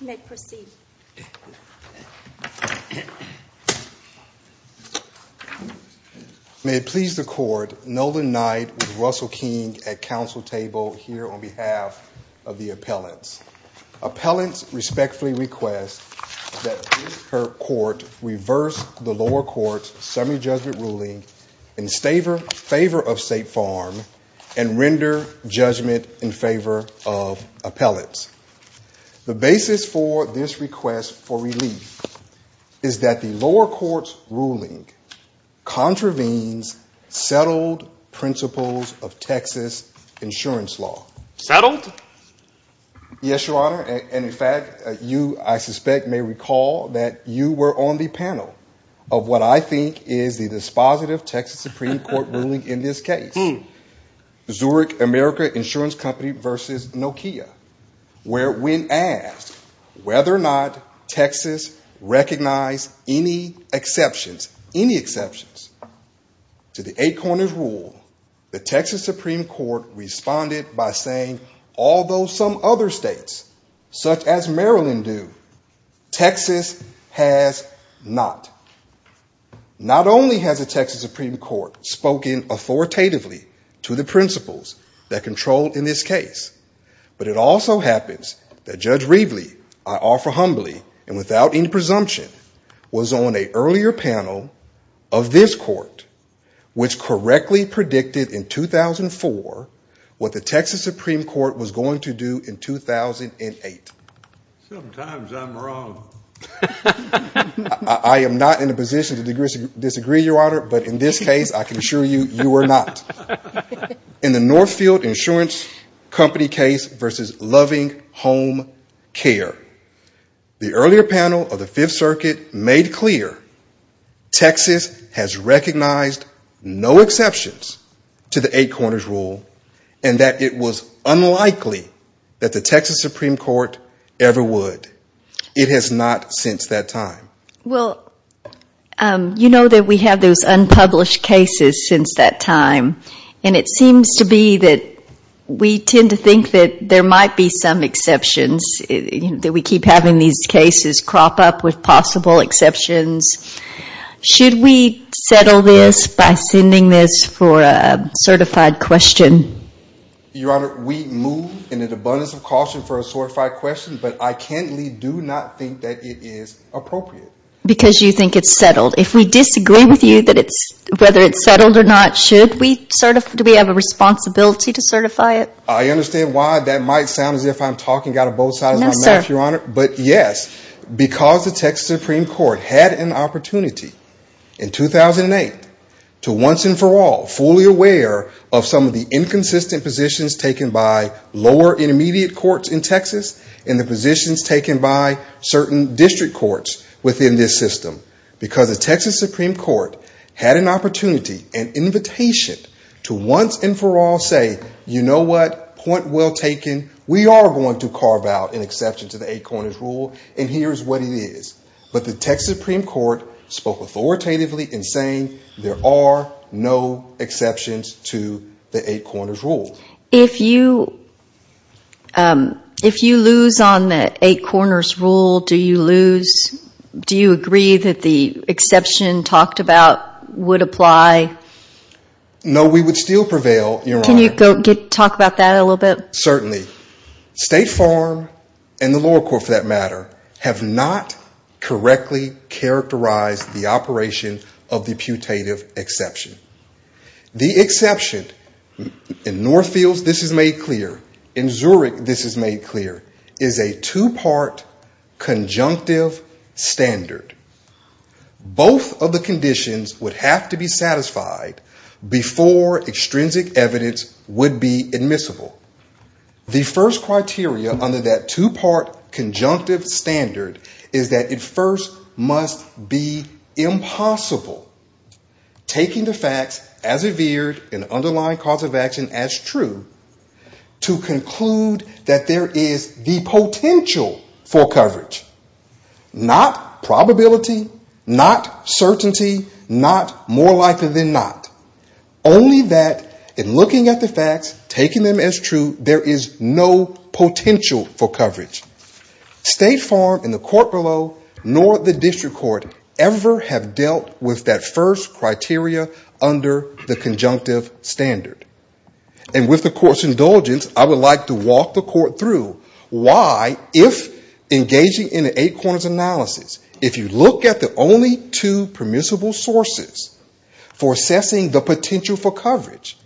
May it please the court, Nolan Knight with Russell King at council table here on behalf of the appellants. Appellants respectfully request that her court reverse the lower court's semi-judgment ruling in favor of State Farm and render judgment in favor of appellants. The basis for this request for relief is that the lower court's ruling contravenes settled principles of Texas insurance law. Settled? Yes, your honor, and in fact, you, I suspect, may recall that you were on the panel of what I think is the dispositive Texas Supreme Court ruling in this case, Zurich America Insurance Company v. Nokia, where when asked whether or not Texas recognized any exceptions, any exceptions to the eight corners rule, the Texas Supreme Court responded by saying, although some other states, such as Maryland do, Texas has not. Not only has the Texas Supreme Court spoken authoritatively to the principles that control in this case, but it also happens that Judge Reveley, I offer humbly and without any presumption, was on an earlier panel of this court, which correctly predicted in 2004 what the Texas Supreme Court was going to do in 2008. Sometimes I'm wrong. I am not in a position to disagree, your honor, but in this case, I can assure you, you are not. In the Northfield Insurance Company case v. Loving Home Care, the earlier panel of the Fifth Circuit made clear Texas has recognized no exceptions to the eight corners rule and that it was unlikely that the Texas Supreme Court ever would. It has not since that time. You know that we have those unpublished cases since that time, and it seems to be that we tend to think that there might be some exceptions, that we keep having these cases crop up with possible exceptions. Should we settle this by sending this for a certified question? Your honor, we move in an abundance of caution for a certified question, but I can't leave do not think that it is appropriate. Because you think it's settled. If we disagree with you that it's, whether it's settled or not, should we sort of, do we have a responsibility to certify it? I understand why that might sound as if I'm talking out of both sides of my mouth, your honor. Yes, because the Texas Supreme Court had an opportunity in 2008 to once and for all fully aware of some of the inconsistent positions taken by lower intermediate courts in Texas and the positions taken by certain district courts within this system. Because the Texas Supreme Court had an opportunity, an invitation to once and for all say, you know what, point well taken, we are going to carve out an exception to the eight corners rule and here is what it is. But the Texas Supreme Court spoke authoritatively in saying there are no exceptions to the eight corners rule. If you lose on the eight corners rule, do you lose, do you agree that the exception talked about would apply? No, we would still prevail, your honor. Can you talk about that a little bit? Certainly. State Farm and the lower court for that matter have not correctly characterized the operation of the putative exception. The exception, in Northfields this is made clear, in Zurich this is made clear, is a two part conjunctive standard. Both of the conditions would have to be satisfied before extrinsic evidence would be admissible. The first criteria under that two part conjunctive standard is that it first must be impossible taking the facts as revered in underlying cause of action as true to conclude that there is the potential for coverage, not probability, not certainty, not more likely than not. Only that in looking at the facts, taking them as true, there is no potential for coverage. State Farm and the court below nor the district court ever have dealt with that first criteria under the conjunctive standard. With the court's indulgence, I would like to walk the court through why if engaging in an eight corners analysis, if you look at the only two permissible sources for assessing the potential for coverage,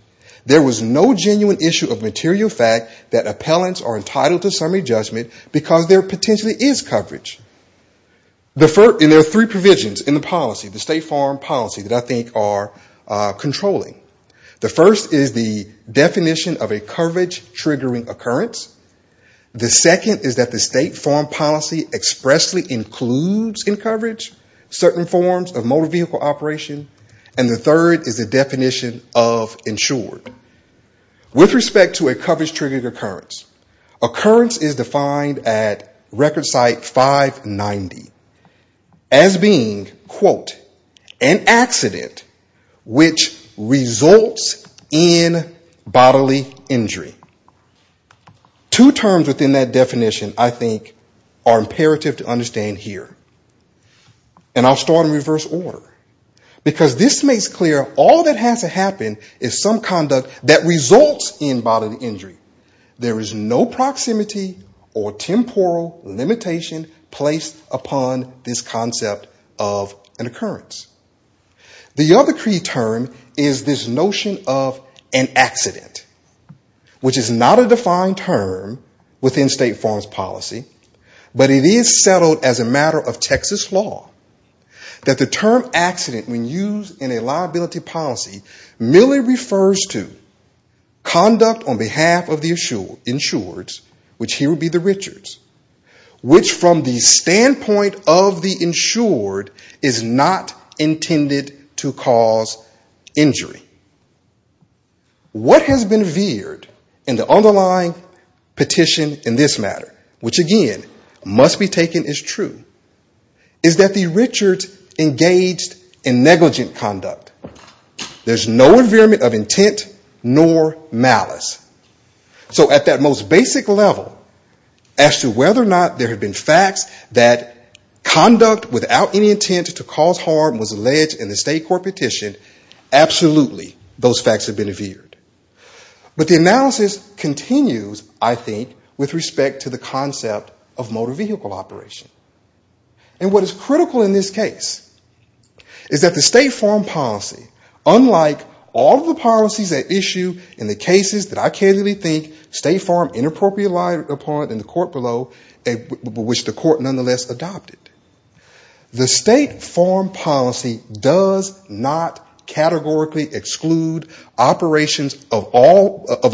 there was no genuine issue of material fact that appellants are entitled to summary judgment because there potentially is coverage. There are three provisions in the policy, the State Farm policy, that I think are controlling. The first is the definition of a coverage triggering occurrence. The second is that the State Farm policy expressly includes in coverage certain forms of motor vehicle operation and the third is the definition of insured. With respect to a coverage triggering occurrence, occurrence is defined at record site 590 as being quote, an accident which results in bodily injury. Two terms within that definition I think are imperative to understand here and I'll start in reverse order because this makes clear all that has to happen is some conduct that results in bodily injury. There is no proximity or temporal limitation placed upon this concept of an occurrence. The other key term is this notion of an accident, which is not a defined term within State Farm's policy but it is settled as a matter of Texas law that the term accident when used in a liability policy merely refers to conduct on behalf of the insured, which here would be intended to cause injury. What has been veered in the underlying petition in this matter, which again must be taken as true, is that the insured engaged in negligent conduct. There's no environment of intent nor malice. So at that most basic level, as to whether or not there had been facts that conduct without any intent to cause harm was alleged in the State Court petition, absolutely those facts have been veered. But the analysis continues, I think, with respect to the concept of motor vehicle operation. And what is critical in this case is that the State Farm policy, unlike all of the policies at issue in the cases that I candidly think State Farm inappropriately relied upon in the court below, which the court nonetheless adopted. The State Farm policy does not categorically exclude operations of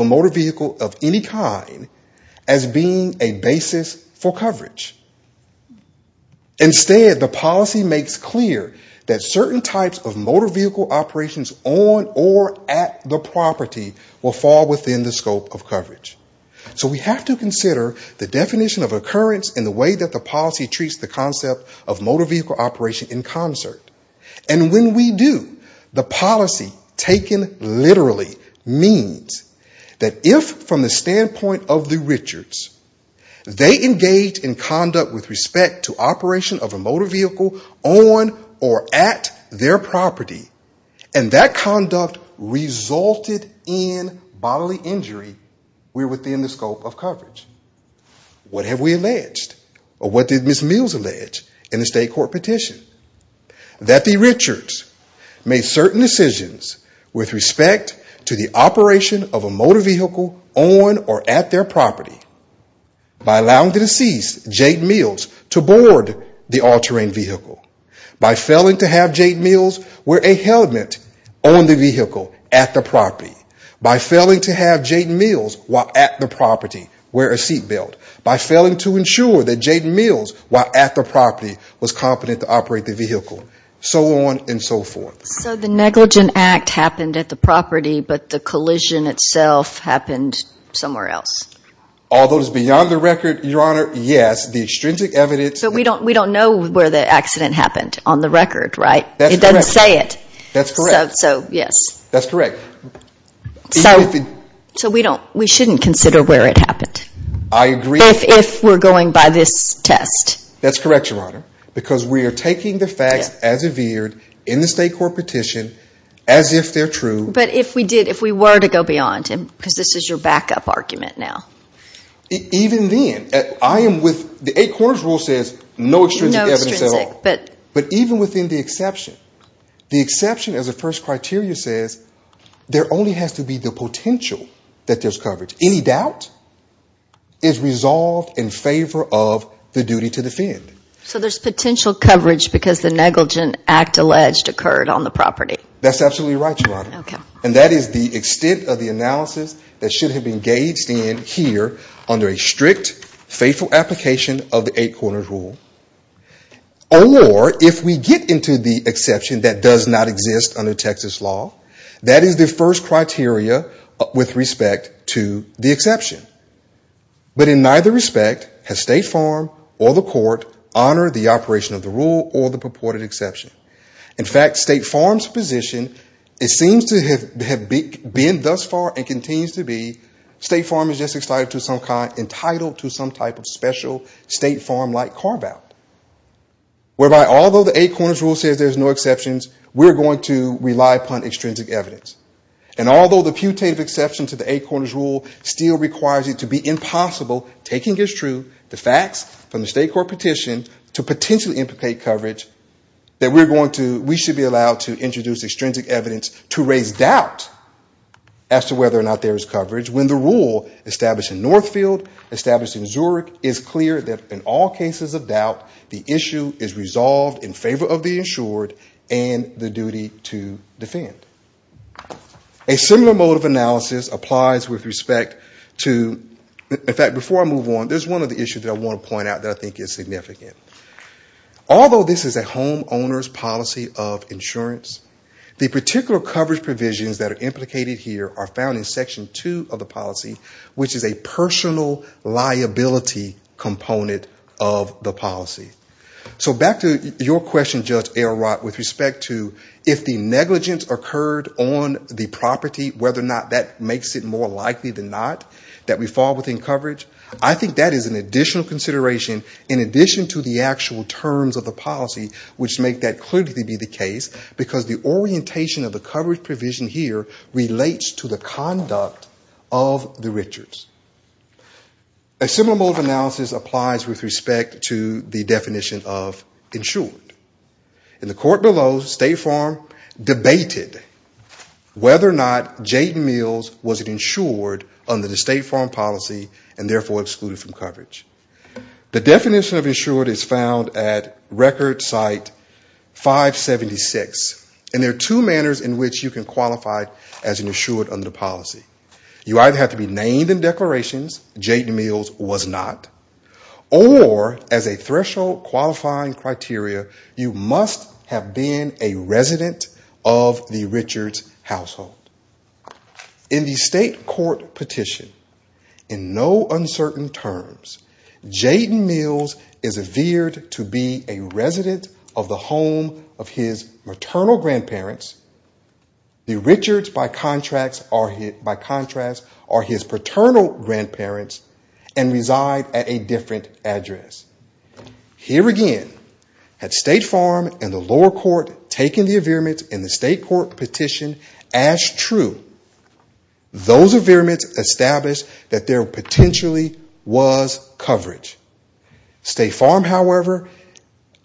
a motor vehicle of any kind as being a basis for coverage. Instead, the policy makes clear that certain types of motor vehicle operations on or at their property are not subject to coverage. So we have to consider the definition of occurrence in the way that the policy treats the concept of motor vehicle operation in concert. And when we do, the policy taken literally means that if from the standpoint of the Richards, they engage in conduct with respect to operation of a motor vehicle on or at their property, and that conduct resulted in bodily injury, we're within the scope of coverage. What have we alleged, or what did Ms. Mills allege in the State Court petition? That the Richards made certain decisions with respect to the operation of a motor vehicle on or at their property by allowing the deceased, Jade Mills, to board the all-terrain vehicle, by failing to have Jade Mills wear a helmet on the vehicle at the property, by failing to have Jade Mills, while at the property, wear a seat belt, by failing to ensure that Jade Mills, while at the property, was competent to operate the vehicle, so on and so forth. So the negligent act happened at the property, but the collision itself happened somewhere else? Although it's beyond the record, Your Honor, yes, the extrinsic evidence... So we don't know where the accident happened on the record, right? It doesn't say it. That's correct. So, yes. That's correct. So, we shouldn't consider where it happened. I agree. If we're going by this test. That's correct, Your Honor, because we are taking the facts as it appeared in the State Court petition as if they're true. But if we did, if we were to go beyond, because this is your backup argument now. Even then, I am with, the eight corners rule says no extrinsic evidence at all, but even within the exception, the exception as a first criteria says, there only has to be the potential that there's coverage. Any doubt is resolved in favor of the duty to defend. So there's potential coverage because the negligent act alleged occurred on the property? That's absolutely right, Your Honor, and that is the extent of the analysis that should appear under a strict, faithful application of the eight corners rule, or if we get into the exception that does not exist under Texas law, that is the first criteria with respect to the exception. But in neither respect has State Farm or the court honored the operation of the rule or the purported exception. In fact, State Farm's position, it seems to have been thus far and continues to be, State Farm is entitled to some type of special State Farm-like carve-out, whereby although the eight corners rule says there's no exceptions, we're going to rely upon extrinsic evidence. And although the putative exception to the eight corners rule still requires it to be impossible, taking as true the facts from the state court petition to potentially implicate coverage, that we should be allowed to introduce extrinsic evidence to raise doubt as to whether or not there is coverage when the rule established in Northfield, established in Zurich, is clear that in all cases of doubt, the issue is resolved in favor of the insured and the duty to defend. A similar mode of analysis applies with respect to, in fact, before I move on, there's one of the issues that I want to point out that I think is significant. Although this is a homeowner's policy of insurance, the particular coverage provisions that are outlined in Section 2 of the policy, which is a personal liability component of the policy. So back to your question, Judge Ayerrott, with respect to if the negligence occurred on the property, whether or not that makes it more likely than not that we fall within coverage, I think that is an additional consideration in addition to the actual terms of the policy, which make that clearly be the case, because the orientation of the coverage provision here relates to the conduct of the Richards. A similar mode of analysis applies with respect to the definition of insured. In the court below State Farm debated whether or not Jaden Mills was insured under the State Farm policy and therefore excluded from coverage. The definition of insured is found at record site 576, and there are two manners in which you can qualify as an insured under the policy. You either have to be named in declarations, Jaden Mills was not, or as a threshold qualifying criteria, you must have been a resident of the Richards household. In the state court petition, in no uncertain terms, Jaden Mills is veered to be a resident of the home of his maternal grandparents. The Richards, by contrast, are his paternal grandparents and reside at a different address. Here again, had State Farm and the lower court taken the veerments in the state court petition as true, those veerments established that there potentially was coverage. State Farm, however,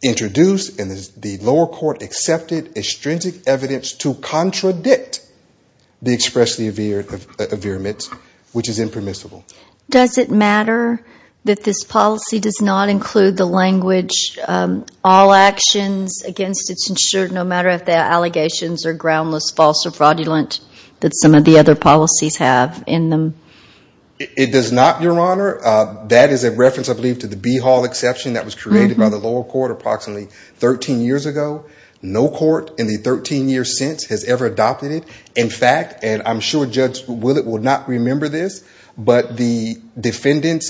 introduced and the lower court accepted a stringent evidence to contradict the expressly veerments, which is impermissible. Does it matter that this policy does not include the language, all actions against its insured, no matter if the allegations are groundless, false or fraudulent that some of the other defendants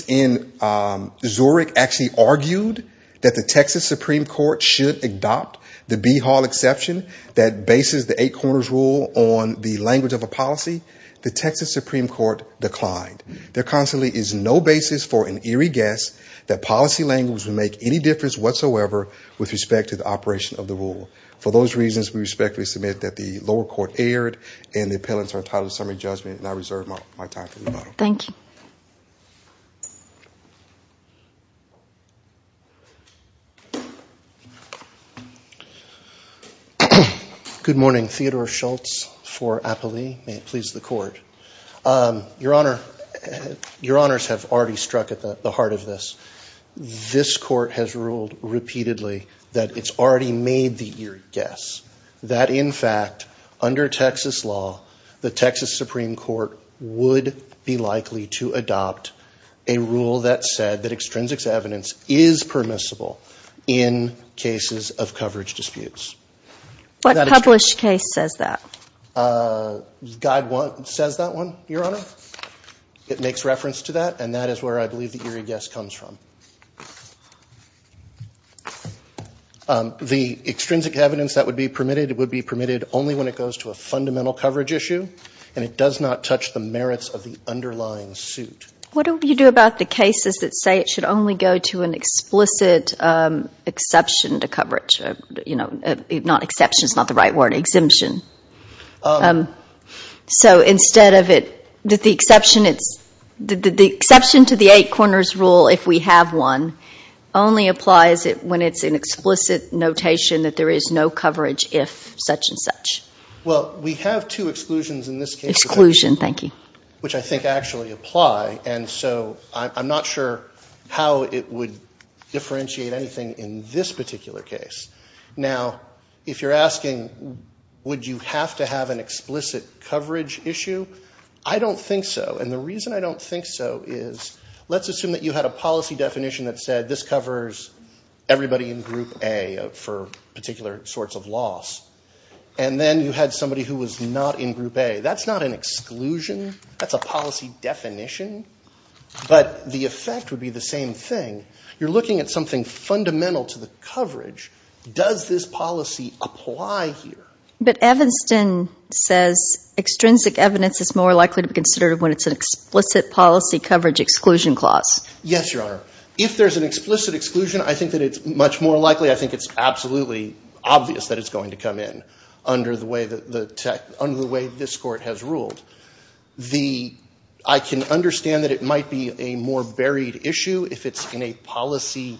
in Zurich actually argued that the Texas Supreme Court should adopt the B declined. There constantly is no basis for an eerie guess that policy language would make any difference whatsoever with respect to the operation of the rule. For those reasons, we respectfully submit that the lower court erred and the appellants are entitled to summary judgment and I reserve my time for rebuttal. Thank you. Good morning. Theodore Schultz for Appallee. May it please the court. Your honors have already struck at the heart of this. This court has ruled repeatedly that it's already made the eerie guess that in fact, under Texas law, the Texas Supreme Court would be liable to adopt a rule that said that extrinsic evidence is permissible in cases of coverage disputes. What published case says that? Guide one says that one, your honor. It makes reference to that and that is where I believe the eerie guess comes from. The extrinsic evidence that would be permitted would be permitted only when it goes to a fundamental coverage issue and it does not touch the merits of the underlying suit. What do you do about the cases that say it should only go to an explicit exception to coverage? Not exception, it's not the right word. Exemption. So instead of it, the exception to the eight corners rule, if we have one, only applies when it's an explicit notation that there is no coverage if such and such. Well, we have two exclusions in this case. Exclusion, thank you. Which I think actually apply and so I'm not sure how it would differentiate anything in this particular case. Now, if you're asking would you have to have an explicit coverage issue, I don't think so. And the reason I don't think so is, let's assume that you had a policy definition that said this covers everybody in group A for particular sorts of loss. And then you had somebody who was not in group A. That's not an exclusion, that's a policy definition. But the effect would be the same thing. You're looking at something fundamental to the coverage. Does this policy apply here? But Evanston says extrinsic evidence is more likely to be considered when it's an explicit policy coverage exclusion clause. Yes, Your Honor. If there's an explicit exclusion, I think that it's much more likely, I think it's absolutely obvious that it's going to come in under the way this court has ruled. I can understand that it might be a more buried issue if it's in a policy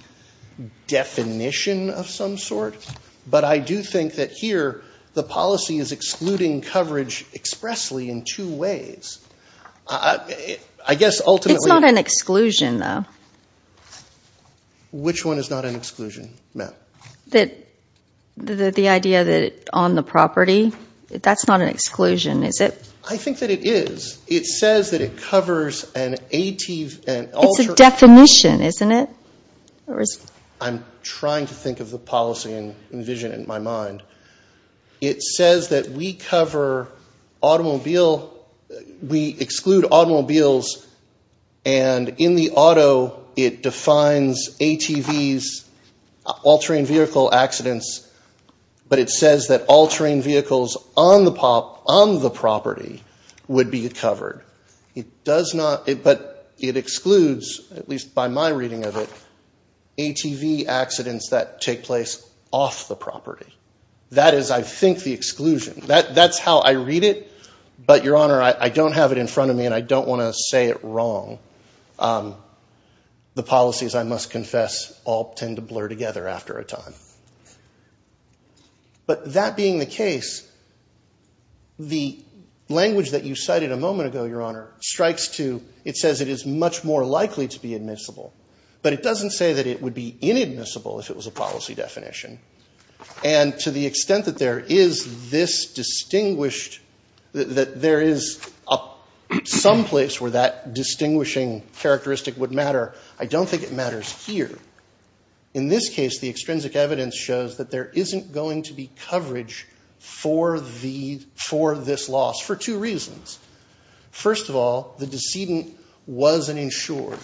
definition of some sort. But I do think that here the policy is excluding coverage expressly in two ways. I guess ultimately- It's not an exclusion though. Which one is not an exclusion, ma'am? The idea that on the property, that's not an exclusion, is it? I think that it is. It says that it covers an AT- It's a definition, isn't it? I'm trying to think of the policy and envision it in my mind. It says that we cover automobile, we exclude automobiles, and in the auto it defines ATVs, all-terrain vehicle accidents, but it says that all-terrain vehicles on the property would be covered. It does not, but it excludes, at least by my reading of it, ATV accidents that take place off the property. That is, I think, the exclusion. That's how I read it, but, Your Honor, I don't have it in front of me and I don't want to say it wrong. The policies, I must confess, all tend to blur together after a time. But that being the case, the language that you cited a moment ago, Your Honor, strikes to, it says it is much more likely to be admissible, but it doesn't say that it would be inadmissible if it was a policy definition. And to the extent that there is this distinguished, that there is some place where that distinguishing characteristic would matter, I don't think it matters here. In this case, the extrinsic evidence shows that there isn't going to be coverage for this loss for two reasons. First of all, the decedent wasn't insured.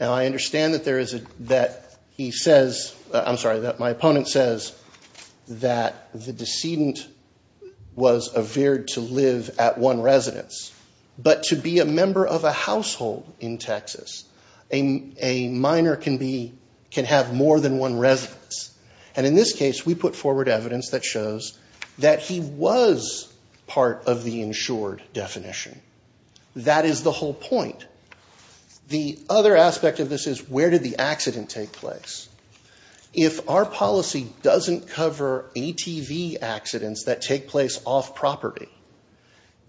Now, I understand that there is a, that he says, I'm sorry, that my opponent says that the decedent was a veered to live at one residence, but to be a member of a household in Texas, a minor can be, can have more than one residence. And in this case, we put forward evidence that shows that he was part of the insured definition. That is the whole point. The other aspect of this is, where did the accident take place? If our policy doesn't cover ATV accidents that take place off property,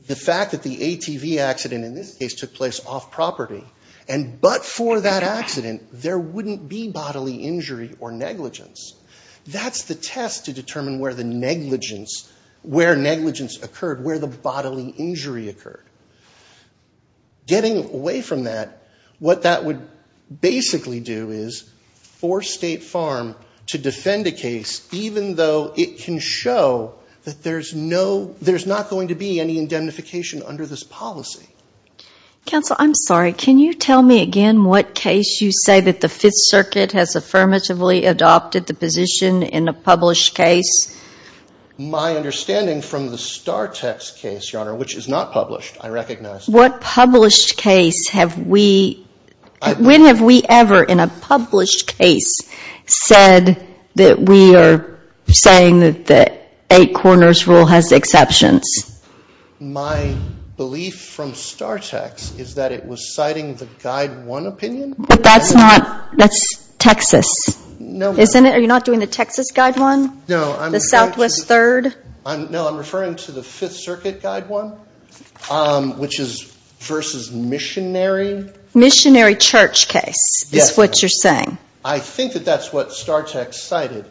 the fact that the ATV accident in this case took place off property, and but for that accident, there wouldn't be bodily injury or negligence. That's the test to determine where the negligence, where negligence occurred, where the bodily injury occurred. Getting away from that, what that would basically do is force State Farm to defend a case even though it can show that there's no, there's not going to be any indemnification under this policy. Counsel, I'm sorry, can you tell me again what case you say that the Fifth Circuit has affirmatively adopted the position in a published case? My understanding from the Star-Tex case, Your Honor, which is not published, I recognize. What published case have we, when have we ever in a published case said that we are saying that the Eight Corners rule has exceptions? My belief from Star-Tex is that it was citing the Guide 1 opinion. But that's not, that's Texas. No. Isn't it? Are you not doing the Texas Guide 1? No, I'm referring to the Fifth Circuit Guide 1, which is versus missionary. Missionary church case is what you're saying. I think that that's what Star-Tex cited.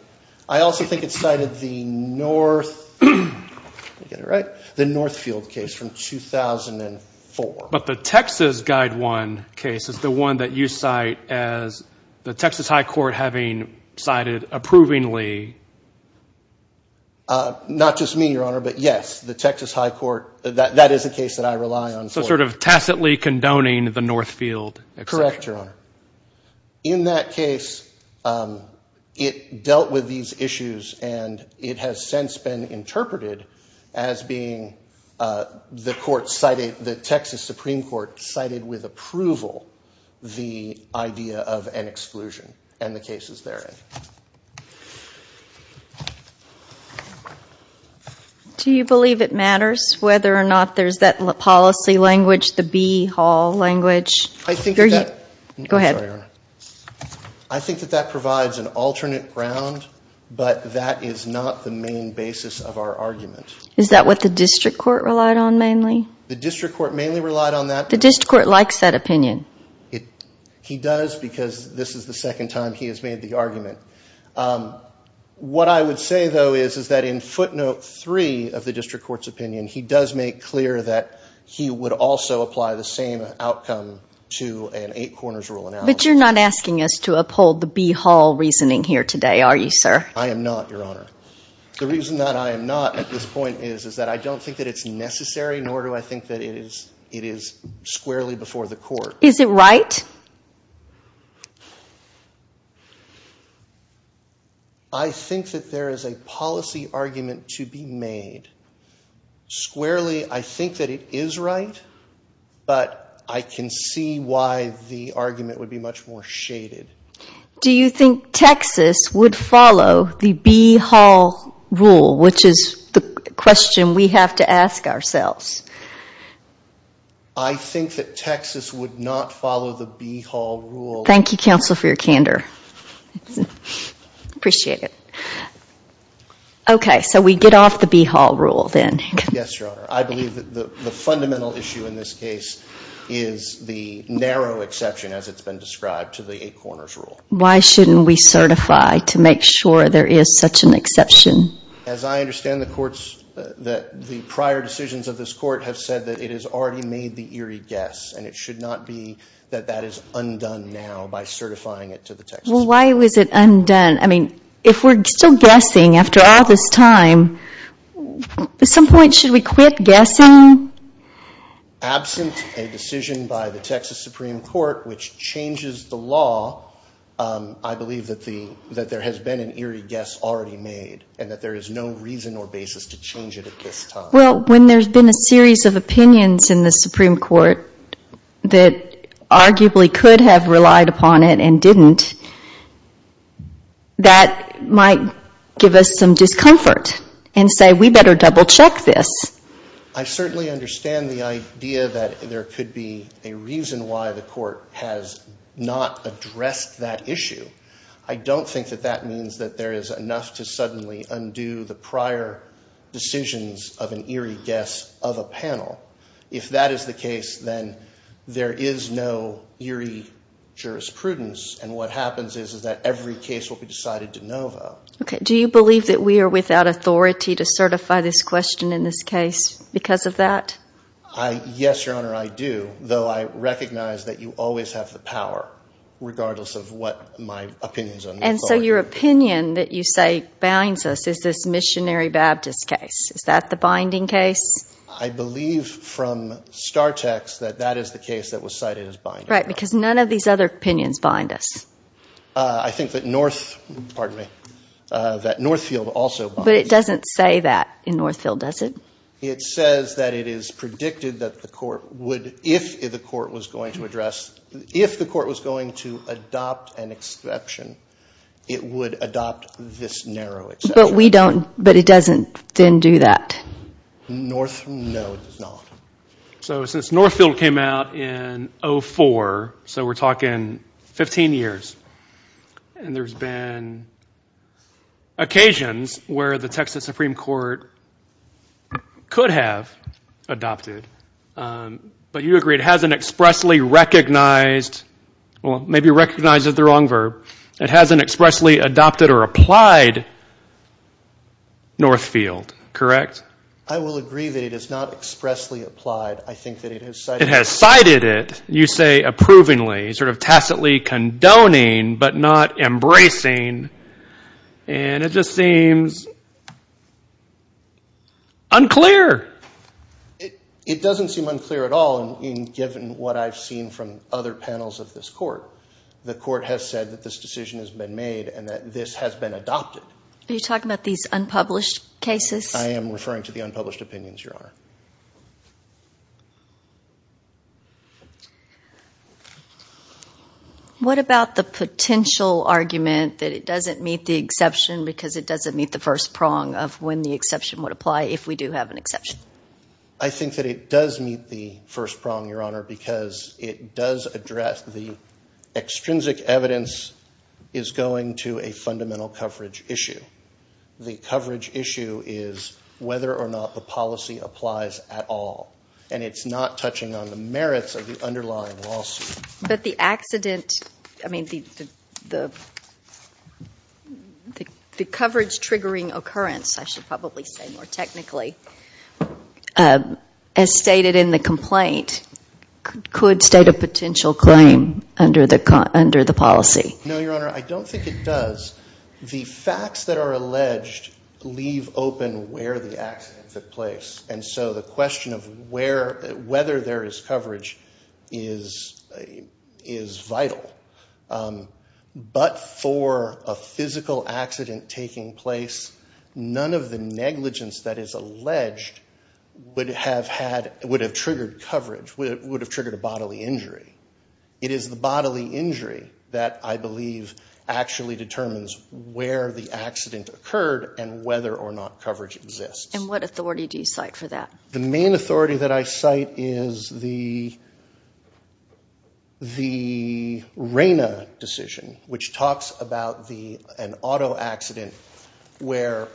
I also think it cited the North, did I get it right, the Northfield case from 2004. But the Texas Guide 1 case is the one that you cite as the Texas High Court having cited approvingly. Not just me, Your Honor, but yes, the Texas High Court, that is a case that I rely on. So sort of tacitly condoning the Northfield exception. Correct, Your Honor. In that case, it dealt with these issues and it has since been interpreted as being the court cited, the Texas Supreme Court cited with approval the idea of an exclusion and the cases therein. Do you believe it matters whether or not there's that policy language, the B Hall language? I think that that provides an alternate ground, but that is not the main basis of our argument. Is that what the district court relied on mainly? The district court mainly relied on that. The district court likes that opinion. He does because this is the second time he has made the argument. What I would say, though, is that in footnote three of the district court's opinion, he does make clear that he would also apply the same outcome to an eight corners rule analysis. But you're not asking us to uphold the B Hall reasoning here today, are you, sir? I am not, Your Honor. The reason that I am not at this point is that I don't think that it's necessary, nor do I think that it is squarely before the court. Is it right? I think that there is a policy argument to be made. Squarely, I think that it is right, but I can see why the argument would be much more shaded. Do you think Texas would follow the B Hall rule, which is the question we have to ask ourselves? I think that Texas would not follow the B Hall rule. Thank you, counsel, for your candor. I appreciate it. We get off the B Hall rule, then. Yes, Your Honor. I believe that the fundamental issue in this case is the narrow exception, as it's been described, to the eight corners rule. Why shouldn't we certify to make sure there is such an exception? As I understand the courts, the prior decisions of this court have said that it has already made the eerie guess, and it should not be that that is undone now by certifying it to the Texas Supreme Court. Why was it undone? I mean, if we're still guessing after all this time, at some point should we quit guessing? Absent a decision by the Texas Supreme Court which changes the law, I believe that there has been an eerie guess already made, and that there is no reason or basis to change it at this time. Well, when there's been a series of opinions in the Supreme Court that arguably could have relied upon it and didn't, that might give us some discomfort and say we better double-check this. I certainly understand the idea that there could be a reason why the court has not addressed that issue. I don't think that that means that there is enough to suddenly undo the prior decisions of an eerie guess of a panel. If that is the case, then there is no eerie jurisprudence, and what happens is that every case will be decided de novo. Do you believe that we are without authority to certify this question in this case because of that? Yes, Your Honor, I do, though I recognize that you always have the power, regardless of what my opinions are. And so your opinion that you say binds us is this Missionary Baptist case. Is that the binding case? I believe from Star Text that that is the case that was cited as binding. Right, because none of these other opinions bind us. I think that Northfield also binds us. But it doesn't say that in Northfield, does it? It says that it is predicted that the court would, if the court was going to address, if the court was going to adopt an exception, it would adopt this narrow exception. But we don't, but it doesn't then do that. Northfield, no, it does not. So since Northfield came out in 2004, so we're talking 15 years, and there's been occasions where the Texas Supreme Court could have adopted. But you agree it hasn't expressly recognized, well, maybe recognized is the wrong verb, it hasn't expressly adopted or applied Northfield, correct? I will agree that it has not expressly applied. I think that it has cited it. It has cited it, you say approvingly, sort of tacitly condoning, but not embracing. And it just seems unclear. It doesn't seem unclear at all, given what I've seen from other panels of this court. The court has said that this decision has been made and that this has been adopted. Are you talking about these unpublished cases? I am referring to the unpublished opinions, Your Honor. What about the potential argument that it doesn't meet the exception because it doesn't meet the first prong of when the exception would apply if we do have an exception? I think that it does meet the first prong, Your Honor, because it does address the extrinsic evidence is going to a fundamental coverage issue. The coverage issue is whether or not the policy applies at all, and it's not touching on the merits of the underlying lawsuit. But the accident, I mean, the coverage-triggering occurrence, I should probably say more technically, as stated in the complaint, could state a potential claim under the policy. No, Your Honor, I don't think it does. The facts that are alleged leave open where the accident took place, and so the question of whether there is coverage is vital. But for a physical accident taking place, none of the negligence that is alleged would have triggered coverage, would have triggered a bodily injury. It is the bodily injury that I believe actually determines where the accident occurred and whether or not coverage exists. And what authority do you cite for that? The main authority that I cite is the RENA decision, which talks about an auto accident where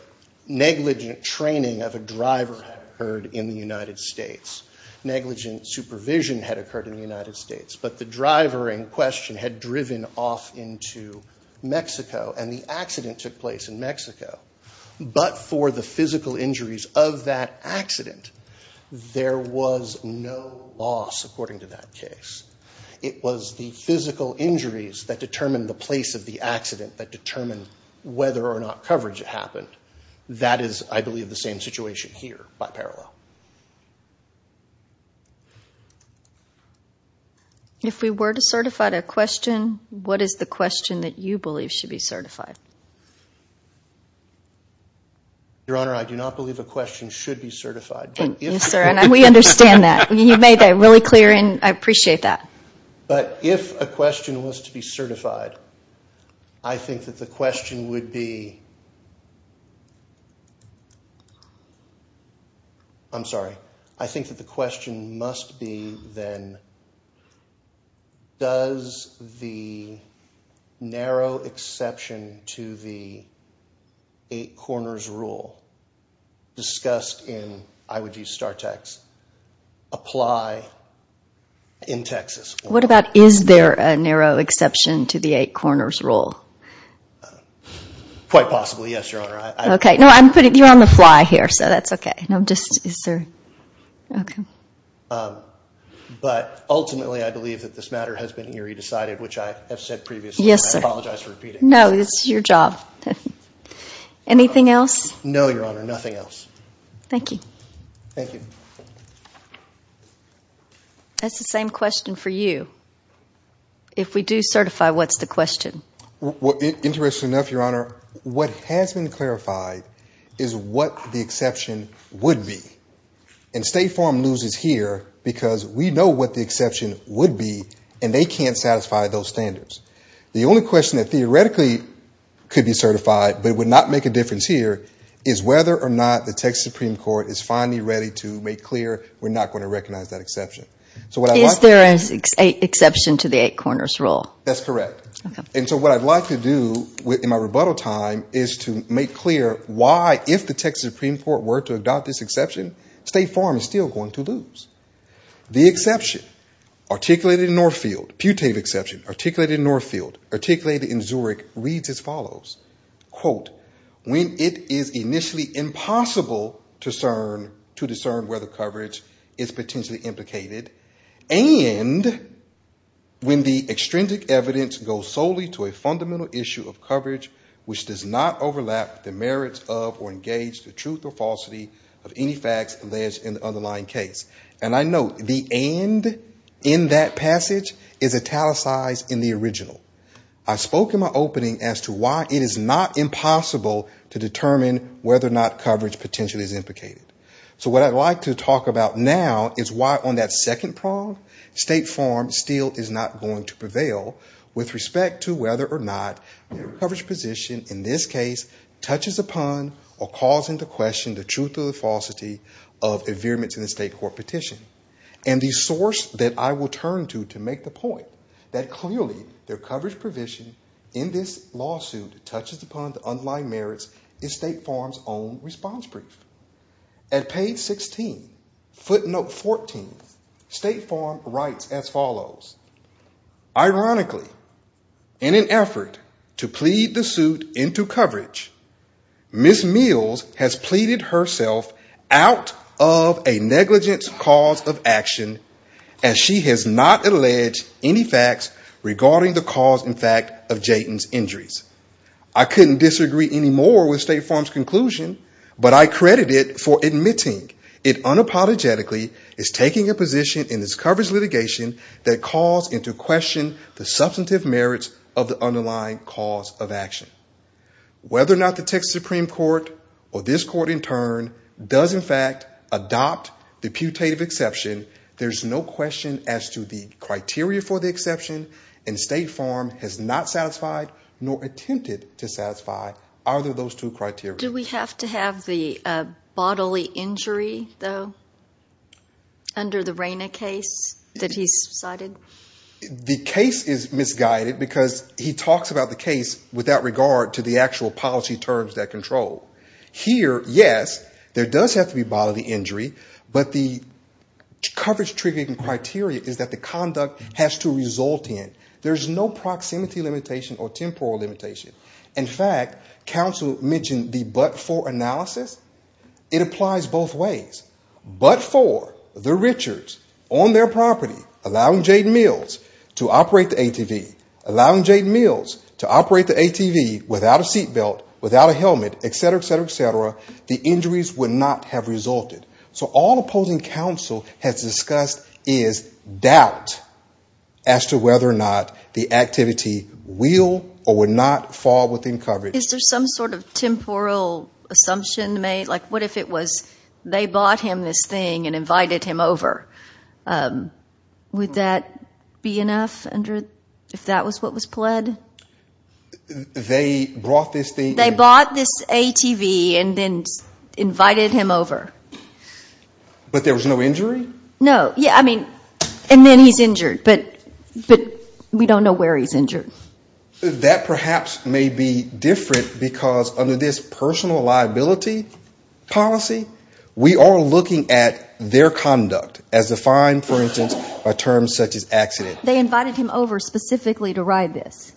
negligent training of a driver occurred in the United States. Negligent supervision had occurred in the United States, but the driver in question had driven off into Mexico and the accident took place in Mexico. But for the physical injuries of that accident, there was no loss, according to that case. It was the physical injuries that determined the place of the accident that determined whether or not coverage happened. That is, I believe, the same situation here by parallel. If we were to certify a question, what is the question that you believe should be certified? Your Honor, I do not believe a question should be certified. Yes, sir, and we understand that. You made that really clear, and I appreciate that. But if a question was to be certified, I think that the question would be—I'm sorry. I think that the question must be, then, does the narrow exception to the eight corners rule discussed in, I would use star text, apply in Texas? What about is there a narrow exception to the eight corners rule? Quite possibly, yes, Your Honor. Okay, no, you're on the fly here, so that's okay. Okay. But ultimately, I believe that this matter has been eerie decided, which I have said previously. Yes, sir. I apologize for repeating. No, it's your job. Anything else? No, Your Honor, nothing else. Thank you. Thank you. That's the same question for you. If we do certify, what's the question? Interestingly enough, Your Honor, what has been clarified is what the exception would be. And State Farm loses here because we know what the exception would be, and they can't satisfy those standards. The only question that theoretically could be certified but would not make a difference here is whether or not the Texas Supreme Court is finally ready to make clear we're not going to recognize that exception. Is there an exception to the eight corners rule? That's correct. Okay. And so what I'd like to do in my rebuttal time is to make clear why, if the Texas Supreme Court were to adopt this exception, State Farm is still going to lose. The exception articulated in Northfield, putative exception articulated in Northfield, articulated in Zurich, reads as follows. Quote, when it is initially impossible to discern whether coverage is potentially implicated and when the extrinsic evidence goes solely to a fundamental issue of coverage which does not overlap the merits of or engage the truth or falsity of any facts alleged in the underlying case. And I note the end in that passage is italicized in the original. I spoke in my opening as to why it is not impossible to determine whether or not coverage potentially is implicated. So what I'd like to talk about now is why on that second prong State Farm still is not going to prevail with respect to whether or not their coverage position in this case touches upon or calls into question the truth or the falsity of the state court petition. And the source that I will turn to to make the point that clearly their coverage provision in this lawsuit touches upon the underlying merits is State Farm's own response brief. At page 16, footnote 14, State Farm writes as follows. Ironically, in an effort to plead the suit into coverage, Ms. Mills has pleaded herself out of a negligence cause of action as she has not alleged any facts regarding the cause in fact of Jayton's injuries. I couldn't disagree anymore with State Farm's conclusion, but I credit it for admitting it unapologetically is taking a position in this coverage litigation that calls into question the substantive merits of the underlying cause of action. Whether or not the Texas Supreme Court or this court in turn does in fact adopt the putative exception, there's no question as to the criteria for the exception. And State Farm has not satisfied nor attempted to satisfy either of those two criteria. Do we have to have the bodily injury, though, under the Rayna case that he's cited? The case is misguided because he talks about the case without regard to the actual policy terms that control. Here, yes, there does have to be bodily injury, but the coverage triggering criteria is that the conduct has to result in. There's no proximity limitation or temporal limitation. In fact, counsel mentioned the but-for analysis. It applies both ways. But-for, the Richards on their property allowing Jayton Mills to operate the ATV, allowing Jayton Mills to operate the ATV without a seat belt, without a helmet, et cetera, et cetera, et cetera, the injuries would not have resulted. So all opposing counsel has discussed is doubt as to whether or not the activity will or would not fall within coverage. Is there some sort of temporal assumption made? Like what if it was they bought him this thing and invited him over? Would that be enough if that was what was pled? They brought this thing? They bought this ATV and then invited him over. But there was no injury? No. Yeah, I mean, and then he's injured. But we don't know where he's injured. That perhaps may be different because under this personal liability policy, we are looking at their conduct as defined, for instance, by terms such as accident. They invited him over specifically to ride this.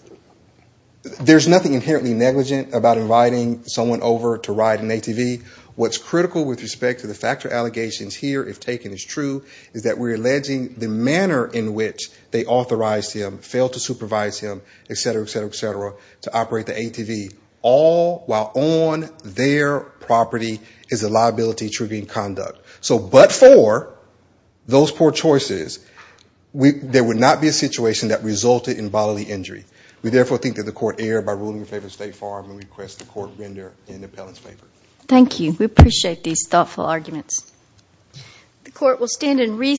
There's nothing inherently negligent about inviting someone over to ride an ATV. What's critical with respect to the factor allegations here, if taken as true, is that we're alleging the manner in which they authorized him, failed to supervise him, et cetera, et cetera, et cetera, to operate the ATV, all while on their property is a liability triggering conduct. So but for those poor choices, there would not be a situation that resulted in bodily injury. We therefore think that the court erred by ruling in favor of State Farm and request the court render an appellant's favor. Thank you. We appreciate these thoughtful arguments.